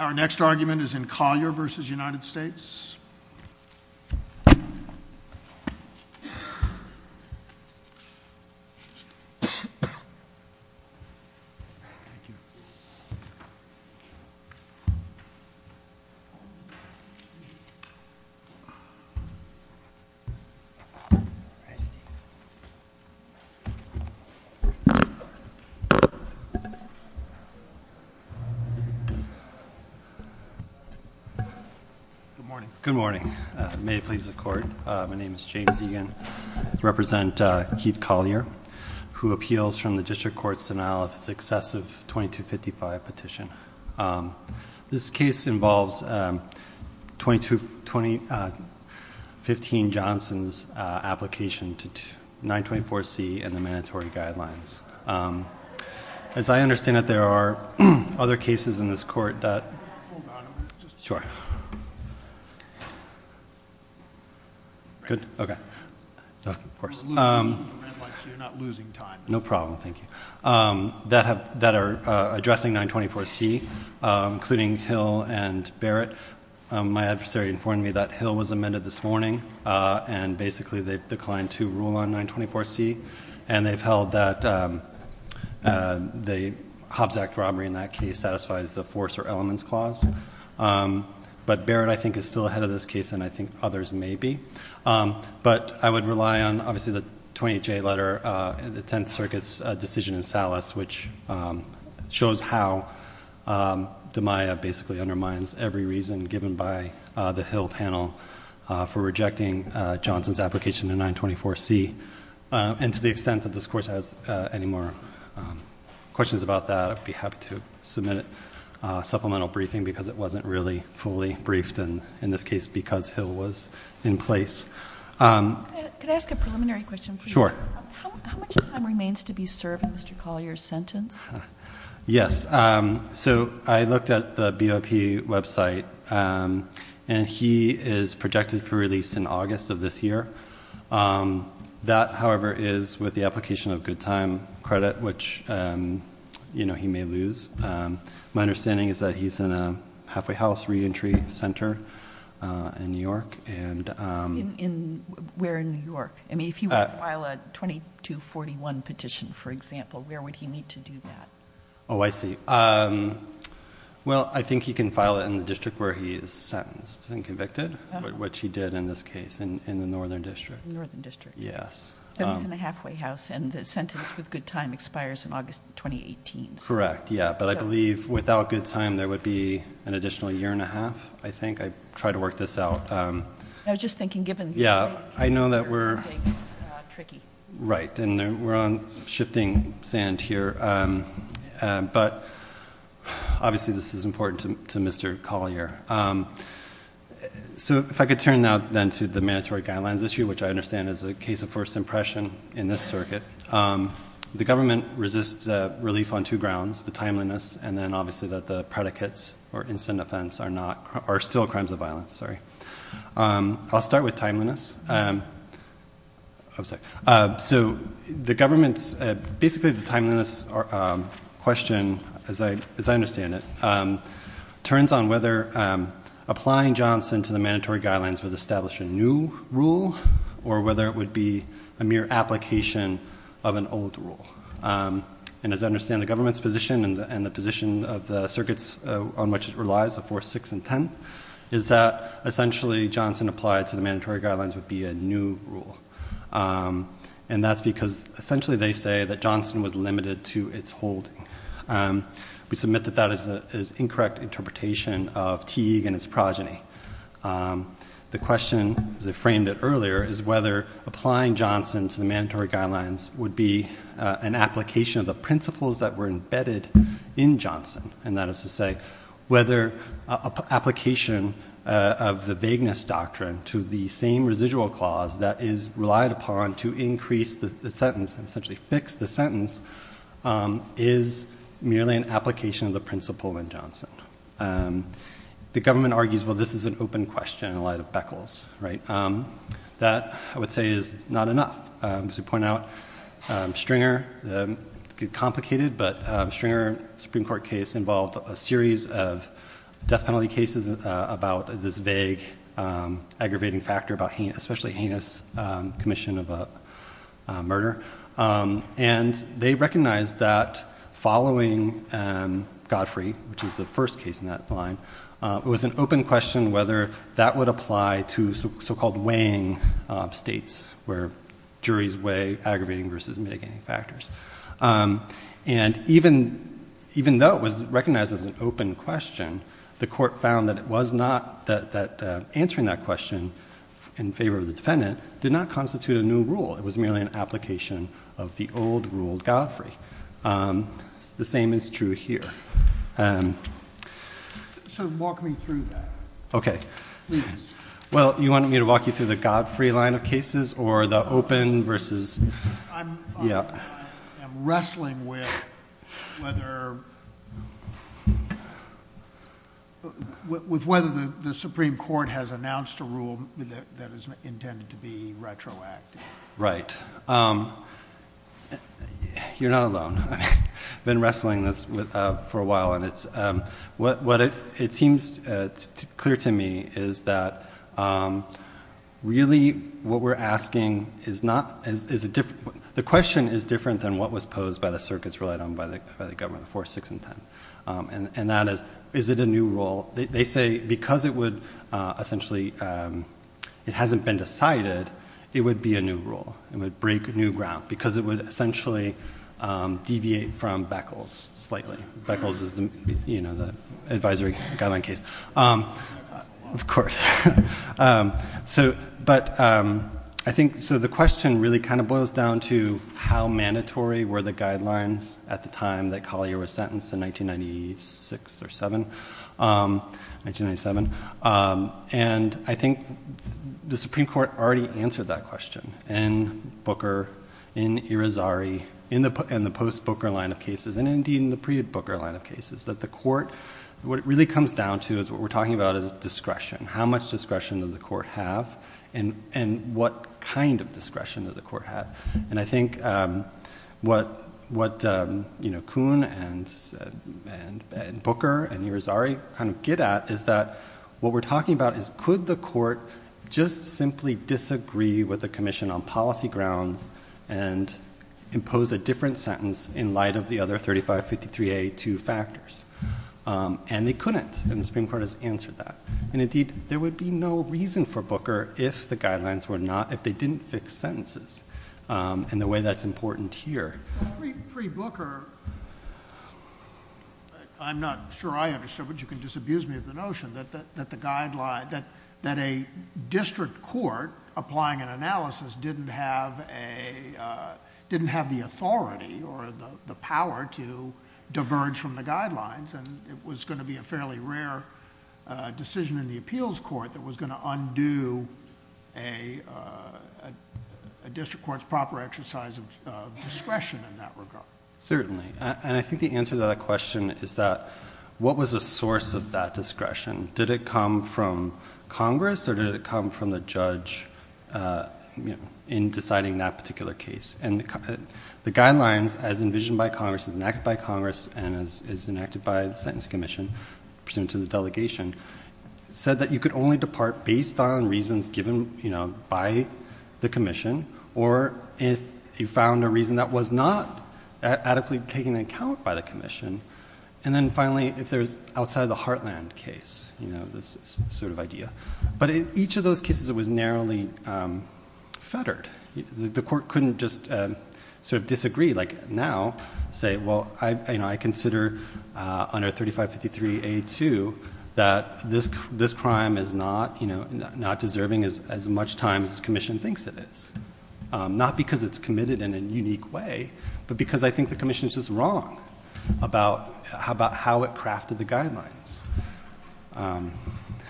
Our next argument is in Collier v. United States. Good morning. May it please the court. My name is James Egan. I represent Keith Collier, who appeals from the District Court's denial of successive 2255 petition. This case involves 2015 Johnson's application to 924C and the mandatory guidelines. As I understand it, there are other cases in this court that are addressing 924C, including Hill and Barrett. My adversary informed me that Hill was amended this morning, and basically they declined to rule on 924C. And they've held that the Hobbs Act robbery in that case satisfies the force or elements clause. But Barrett, I think, is still ahead of this case, and I think others may be. But I would rely on, obviously, the 28J letter and the Tenth Circuit's decision in Salas, which shows how DiMaia basically undermines every reason given by the Hill panel for rejecting Johnson's application to 924C. And to the extent that this Court has any more questions about that, I'd be happy to submit a supplemental briefing, because it wasn't really fully briefed, and in this case, because Hill was in place. Could I ask a preliminary question, please? Sure. How much time remains to be served in Mr. Collier's sentence? Yes. So I looked at the BOP website, and he is projected to be released in August of this year. That, however, is with the application of good time credit, which he may lose. My understanding is that he's in a halfway house reentry center in New York. Where in New York? I mean, if he were to file a 2241 petition, for example, where would he need to do that? Oh, I see. Well, I think he can file it in the district where he is sentenced and convicted, which he did in this case, in the Northern District. Northern District. Yes. So he's in a halfway house, and the sentence with good time expires in August 2018. Correct. Yeah. But I believe without good time, there would be an additional year and a half, I think. I try to work this out. I was just thinking, given the date, it's tricky. Right. And we're on shifting sand here. But obviously this is important to Mr. Collier. So if I could turn now then to the mandatory guidelines issue, which I understand is a case of first impression in this circuit. The government resists relief on two grounds, the timeliness and then obviously that the predicates or incident offense are still crimes of violence. Sorry. I'll start with timeliness. I'm sorry. So the government's, basically the timeliness question, as I understand it, turns on whether applying Johnson to the mandatory guidelines would establish a new rule or whether it would be a mere application of an old rule. And as I understand the government's position and the position of the circuits on which it relies, the fourth, sixth, and tenth, is that essentially Johnson applied to the mandatory guidelines would be a new rule. And that's because essentially they say that Johnson was limited to its holding. We submit that that is an incorrect interpretation of Teague and its progeny. The question, as I framed it earlier, is whether applying Johnson to the mandatory guidelines would be an application of the principles that were embedded in Johnson. And that is to say whether application of the vagueness doctrine to the same residual clause that is relied upon to increase the sentence, essentially fix the sentence, is merely an application of the principle in Johnson. The government argues, well, this is an open question in light of Beckles. That, I would say, is not enough. As we point out, Stringer, complicated, but Stringer Supreme Court case involved a series of death penalty cases about this vague aggravating factor, and they recognized that following Godfrey, which is the first case in that line, it was an open question whether that would apply to so-called weighing states, where juries weigh aggravating versus mitigating factors. And even though it was recognized as an open question, the court found that answering that question in favor of the defendant did not constitute a new rule. It was merely an application of the old rule, Godfrey. The same is true here. So walk me through that, please. Well, you wanted me to walk you through the Godfrey line of cases or the open versus... I'm wrestling with whether the Supreme Court has announced a rule that is intended to be retroactive. Right. You're not alone. I've been wrestling this for a while, and what it seems clear to me is that really what we're asking is not... The question is different than what was posed by the circuits relied on by the government before 6 and 10, and that is, is it a new rule? They say because it would essentially... It would break new ground because it would essentially deviate from Beckles slightly. Beckles is the advisory guideline case. Of course. So the question really kind of boils down to how mandatory were the guidelines at the time that Collier was sentenced in 1996 or 7? 1997. And I think the Supreme Court already answered that question in Booker, in Irizarry, in the post-Booker line of cases, and indeed in the pre-Booker line of cases, that the court... What it really comes down to is what we're talking about is discretion. How much discretion does the court have and what kind of discretion does the court have? And I think what Kuhn and Booker and Irizarry kind of get at is that what we're talking about is could the court just simply disagree with the commission on policy grounds and impose a different sentence in light of the other 3553A2 factors? And they couldn't, and the Supreme Court has answered that. And indeed, there would be no reason for Booker if the guidelines were not, if they didn't fix sentences in the way that's important here. Well, pre-Booker, I'm not sure I understood, but you can just abuse me of the notion, that a district court applying an analysis didn't have a... didn't have the authority or the power to diverge from the guidelines, and it was going to be a fairly rare decision in the appeals court that was going to undo a district court's proper exercise of discretion in that regard. Certainly, and I think the answer to that question is that what was the source of that discretion? Did it come from Congress or did it come from the judge in deciding that particular case? And the guidelines, as envisioned by Congress, as enacted by Congress, and as enacted by the Sentence Commission, pursuant to the delegation, said that you could only depart based on reasons given by the commission or if you found a reason that was not adequately taken into account by the commission. And then finally, if there's outside-of-the-heartland case, this sort of idea. But in each of those cases, it was narrowly fettered. The court couldn't just sort of disagree, like now, say, well, I consider under 3553A2 that this crime is not, you know, not deserving as much time as the commission thinks it is. Not because it's committed in a unique way, but because I think the commission is just wrong about how it crafted the guidelines.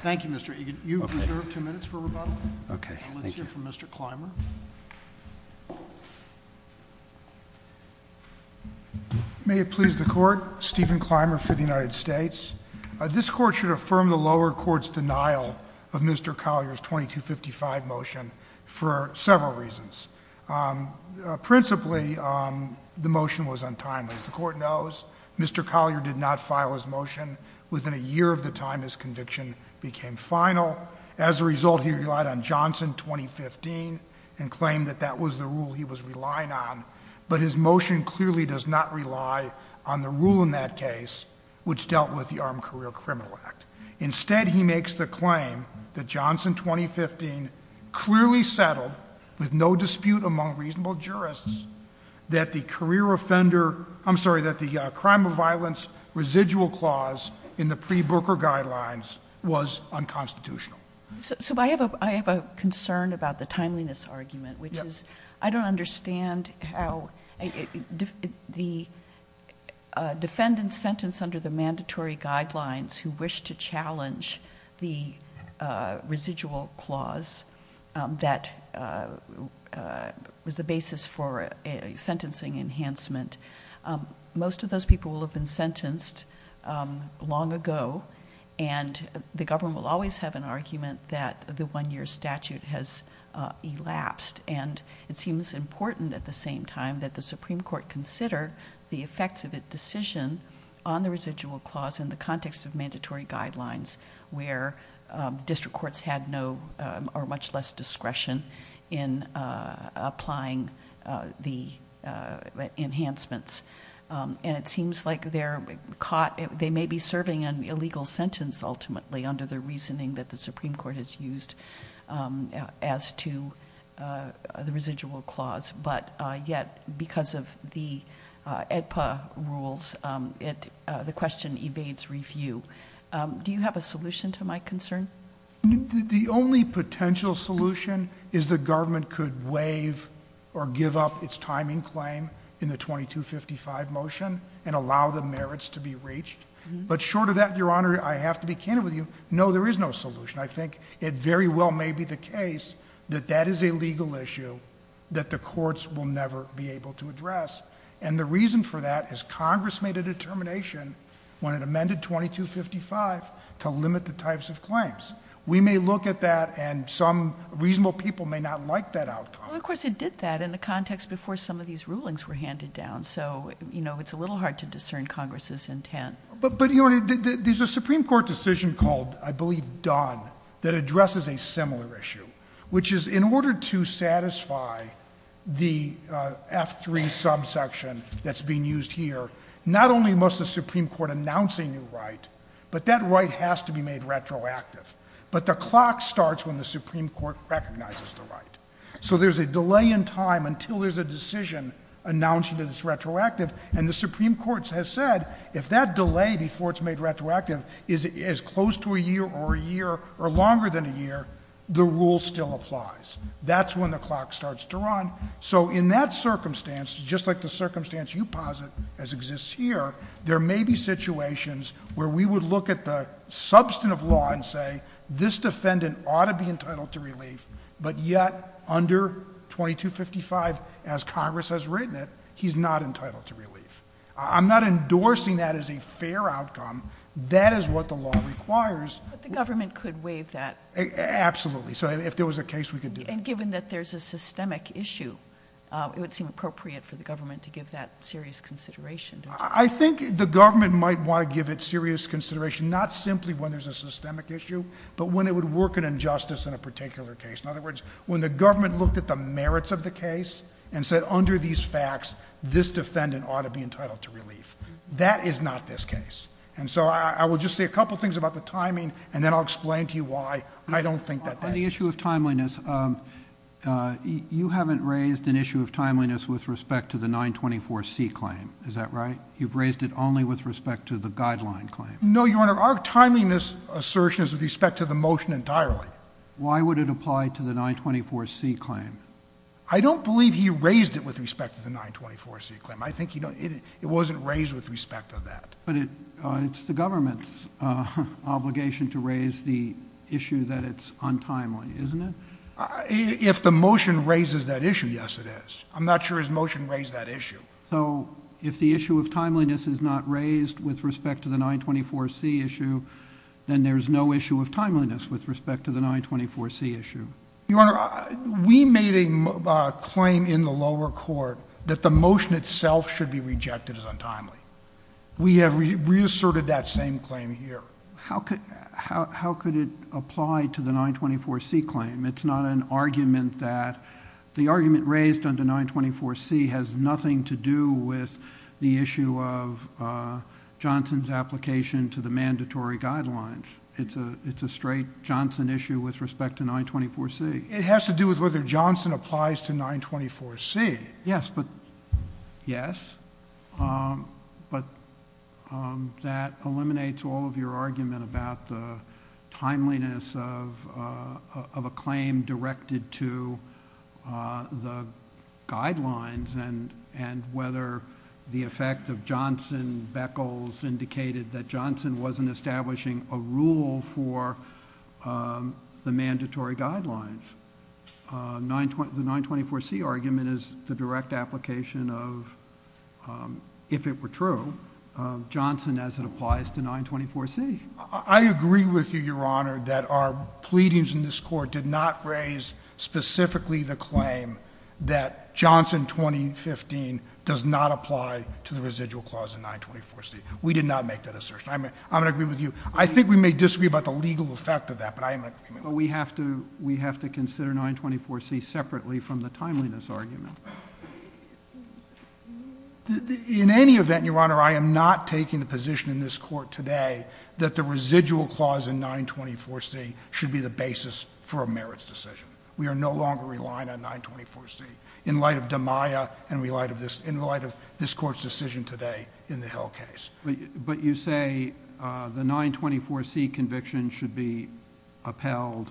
Thank you, Mr. Egan. You have reserved two minutes for rebuttal. Okay. Thank you. Let's hear from Mr. Clymer. May it please the Court, Stephen Clymer for the United States. This Court should affirm the lower court's denial of Mr. Collier's 2255 motion for several reasons. Principally, the motion was untimely. As the Court knows, Mr. Collier did not file his motion within a year of the time his conviction became final. As a result, he relied on Johnson 2015 and claimed that that was the rule he was relying on. But his motion clearly does not rely on the rule in that case, which dealt with the Armed Career Criminal Act. Instead, he makes the claim that Johnson 2015 clearly settled, with no dispute among reasonable jurists, that the career offender, I'm sorry, that the crime of violence residual clause in the pre-Booker guidelines was unconstitutional. So I have a concern about the timeliness argument, which is I don't understand how the defendant's sentence under the mandatory guidelines who wish to challenge the residual clause that was the basis for a sentencing enhancement. Most of those people will have been sentenced long ago. And the government will always have an argument that the one-year statute has elapsed. And it seems important at the same time that the Supreme Court consider the effects of a decision on the residual clause in the context of mandatory guidelines, where district courts had much less discretion in applying the enhancements. And it seems like they may be serving an illegal sentence, ultimately, under the reasoning that the Supreme Court has used as to the residual clause. But yet, because of the AEDPA rules, the question evades review. Do you have a solution to my concern? The only potential solution is the government could waive or give up its timing claim in the 2255 motion and allow the merits to be reached. But short of that, Your Honor, I have to be candid with you, no, there is no solution. I think it very well may be the case that that is a legal issue that the courts will never be able to address. And the reason for that is Congress made a determination when it amended 2255 to limit the types of claims. We may look at that, and some reasonable people may not like that outcome. Well, of course it did that in the context before some of these rulings were handed down. So, you know, it's a little hard to discern Congress's intent. But, Your Honor, there's a Supreme Court decision called, I believe, Dunn, that addresses a similar issue, which is in order to satisfy the F3 subsection that's being used here, not only must the Supreme Court announce a new right, but that right has to be made retroactive. So there's a delay in time until there's a decision announcing that it's retroactive. And the Supreme Court has said if that delay before it's made retroactive is close to a year or a year or longer than a year, the rule still applies. That's when the clock starts to run. So in that circumstance, just like the circumstance you posit as exists here, there may be situations where we would look at the substantive law and say, well, this defendant ought to be entitled to relief, but yet under 2255, as Congress has written it, he's not entitled to relief. I'm not endorsing that as a fair outcome. That is what the law requires. But the government could waive that. Absolutely. So if there was a case, we could do it. And given that there's a systemic issue, it would seem appropriate for the government to give that serious consideration. I think the government might want to give it serious consideration, not simply when there's a systemic issue, but when it would work an injustice in a particular case. In other words, when the government looked at the merits of the case and said under these facts, this defendant ought to be entitled to relief. That is not this case. And so I will just say a couple things about the timing, and then I'll explain to you why I don't think that that is. On the issue of timeliness, you haven't raised an issue of timeliness with respect to the 924C claim. Is that right? You've raised it only with respect to the guideline claim. No, Your Honor. Our timeliness assertion is with respect to the motion entirely. Why would it apply to the 924C claim? I don't believe he raised it with respect to the 924C claim. I think it wasn't raised with respect to that. But it's the government's obligation to raise the issue that it's untimely, isn't it? If the motion raises that issue, yes, it is. I'm not sure his motion raised that issue. So if the issue of timeliness is not raised with respect to the 924C issue, then there's no issue of timeliness with respect to the 924C issue. Your Honor, we made a claim in the lower court that the motion itself should be rejected as untimely. We have reasserted that same claim here. How could it apply to the 924C claim? It's not an argument that the argument raised under 924C has nothing to do with the issue of Johnson's application to the mandatory guidelines. It's a straight Johnson issue with respect to 924C. It has to do with whether Johnson applies to 924C. Yes, but, yes. But that eliminates all of your argument about the timeliness of a claim directed to the guidelines and whether the effect of Johnson-Beckles indicated that Johnson wasn't establishing a rule for the mandatory guidelines. The 924C argument is the direct application of, if it were true, Johnson as it applies to 924C. I agree with you, Your Honor, that our pleadings in this court did not raise specifically the claim that Johnson 2015 does not apply to the residual clause in 924C. We did not make that assertion. I'm going to agree with you. I think we may disagree about the legal effect of that, but I am going to agree with you. But we have to consider 924C separately from the timeliness argument. In any event, Your Honor, I am not taking the position in this court today that the residual clause in 924C should be the basis for a merits decision. We are no longer relying on 924C in light of DeMaia and in light of this court's decision today in the Hill case. But you say the 924C conviction should be upheld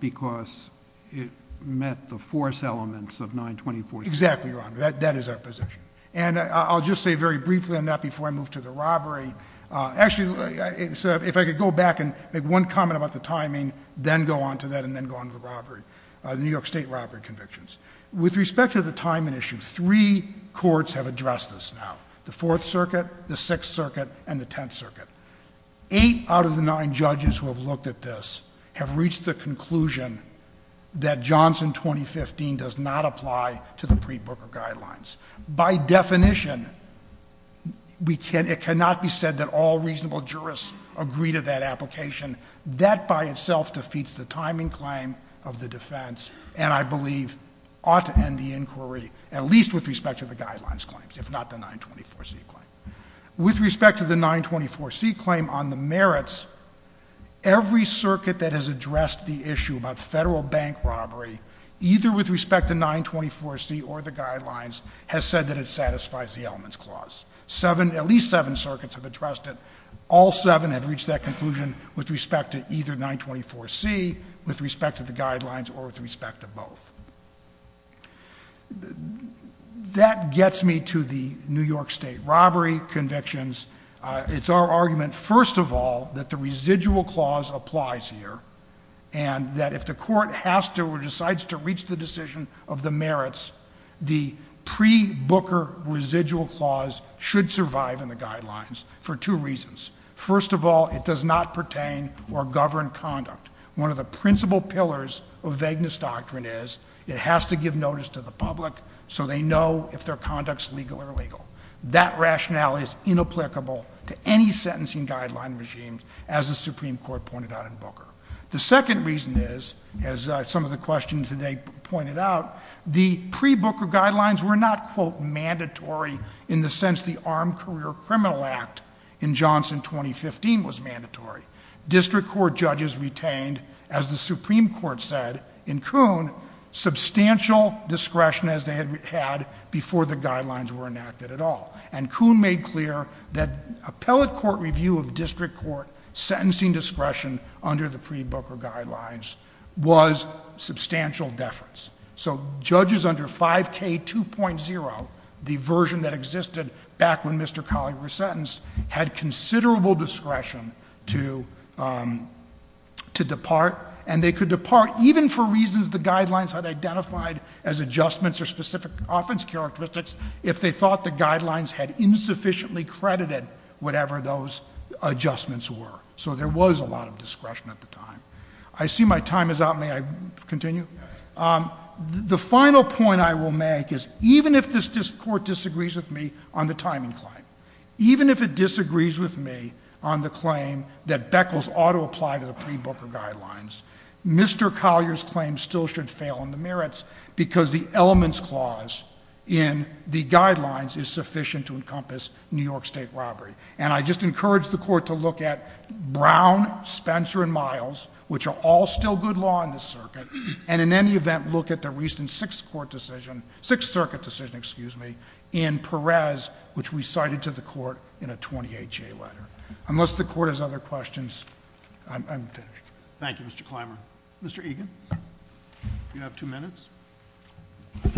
because it met the force elements of 924C. Exactly, Your Honor. That is our position. And I'll just say very briefly on that before I move to the robbery. Actually, if I could go back and make one comment about the timing, then go on to that and then go on to the robbery, the New York State robbery convictions. With respect to the timing issue, three courts have addressed this now, the Fourth Circuit, the Sixth Circuit, and the Tenth Circuit. Eight out of the nine judges who have looked at this have reached the conclusion that Johnson 2015 does not apply to the pre-Booker guidelines. By definition, it cannot be said that all reasonable jurists agree to that application. That by itself defeats the timing claim of the defense, and I believe ought to end the inquiry, at least with respect to the guidelines claims, if not the 924C claim. With respect to the 924C claim on the merits, every circuit that has addressed the issue about federal bank robbery, either with respect to 924C or the guidelines, has said that it satisfies the elements clause. At least seven circuits have addressed it. All seven have reached that conclusion with respect to either 924C, with respect to the guidelines, or with respect to both. That gets me to the New York State robbery convictions. It's our argument, first of all, that the residual clause applies here. And that if the court has to or decides to reach the decision of the merits, the pre-Booker residual clause should survive in the guidelines for two reasons. First of all, it does not pertain or govern conduct. One of the principal pillars of vagueness doctrine is it has to give notice to the public so they know if their conduct is legal or illegal. That rationale is inapplicable to any sentencing guideline regime, as the Supreme Court pointed out in Booker. The second reason is, as some of the questions today pointed out, the pre-Booker guidelines were not, quote, mandatory in the sense the Armed Career Criminal Act in Johnson 2015 was mandatory. District court judges retained, as the Supreme Court said in Kuhn, substantial discretion as they had before the guidelines were enacted at all. And Kuhn made clear that appellate court review of district court sentencing discretion under the pre-Booker guidelines was substantial deference. So judges under 5K2.0, the version that existed back when Mr. Colley was sentenced, had considerable discretion to depart. And they could depart even for reasons the guidelines had identified as adjustments or specific offense characteristics if they thought the guidelines had insufficiently credited whatever those adjustments were. So there was a lot of discretion at the time. I see my time is up. May I continue? The final point I will make is even if this court disagrees with me on the timing claim, even if it disagrees with me on the claim that Beckles ought to apply to the pre-Booker guidelines, Mr. Collier's claim still should fail in the merits because the elements clause in the guidelines is sufficient to encompass New York State robbery. And I just encourage the court to look at Brown, Spencer, and Miles, which are all still good law in this circuit, and in any event, look at the recent Sixth Court decision, Sixth Circuit decision, excuse me, in Perez, which we cited to the court in a 28-J letter. Unless the court has other questions, I'm finished. Thank you, Mr. Clymer. Mr. Egan, you have two minutes.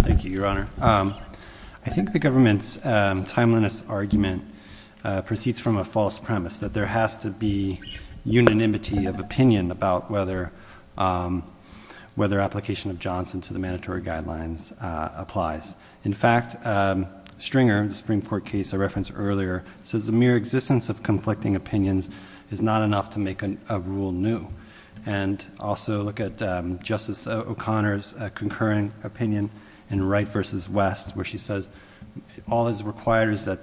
Thank you, Your Honor. I think the government's timeliness argument proceeds from a false premise that there has to be unanimity of opinion about whether application of Johnson to the mandatory guidelines applies. In fact, Stringer, the Supreme Court case I referenced earlier, says the mere existence of conflicting opinions is not enough to make a rule new. And also look at Justice O'Connor's concurrent opinion in Wright v. West, where she says all that's required is that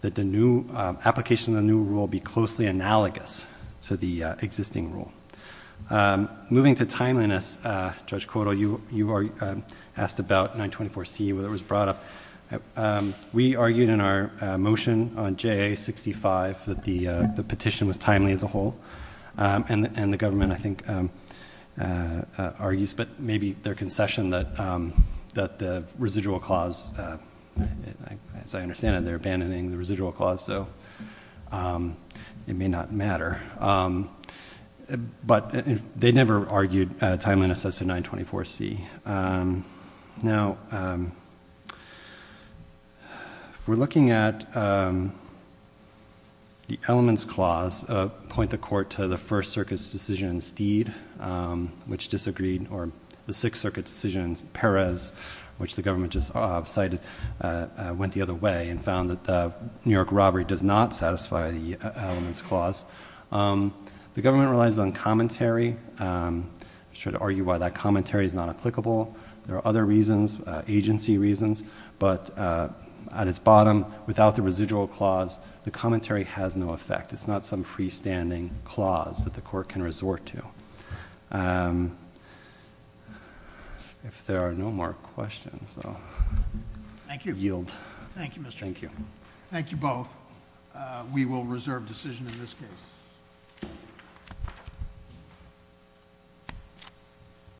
the new application of the new rule be closely analogous to the existing rule. Moving to timeliness, Judge Kotal, you asked about 924C, whether it was brought up. We argued in our motion on JA-65 that the petition was timely as a whole. And the government, I think, argues, but maybe their concession that the residual clause, as I understand it, they're abandoning the residual clause, so it may not matter. But they never argued timeliness as to 924C. Now, if we're looking at the elements clause, point the court to the First Circuit's decision in Steed, which disagreed, or the Sixth Circuit's decision in Perez, which the government just cited, went the other way and found that the New York robbery does not satisfy the elements clause. The government relies on commentary. Should argue why that commentary is not applicable. There are other reasons, agency reasons. But at its bottom, without the residual clause, the commentary has no effect. It's not some freestanding clause that the court can resort to. If there are no more questions, I'll yield. Thank you. Thank you, Mr. Chairman. Thank you. Thank you both. We will reserve decision in this case.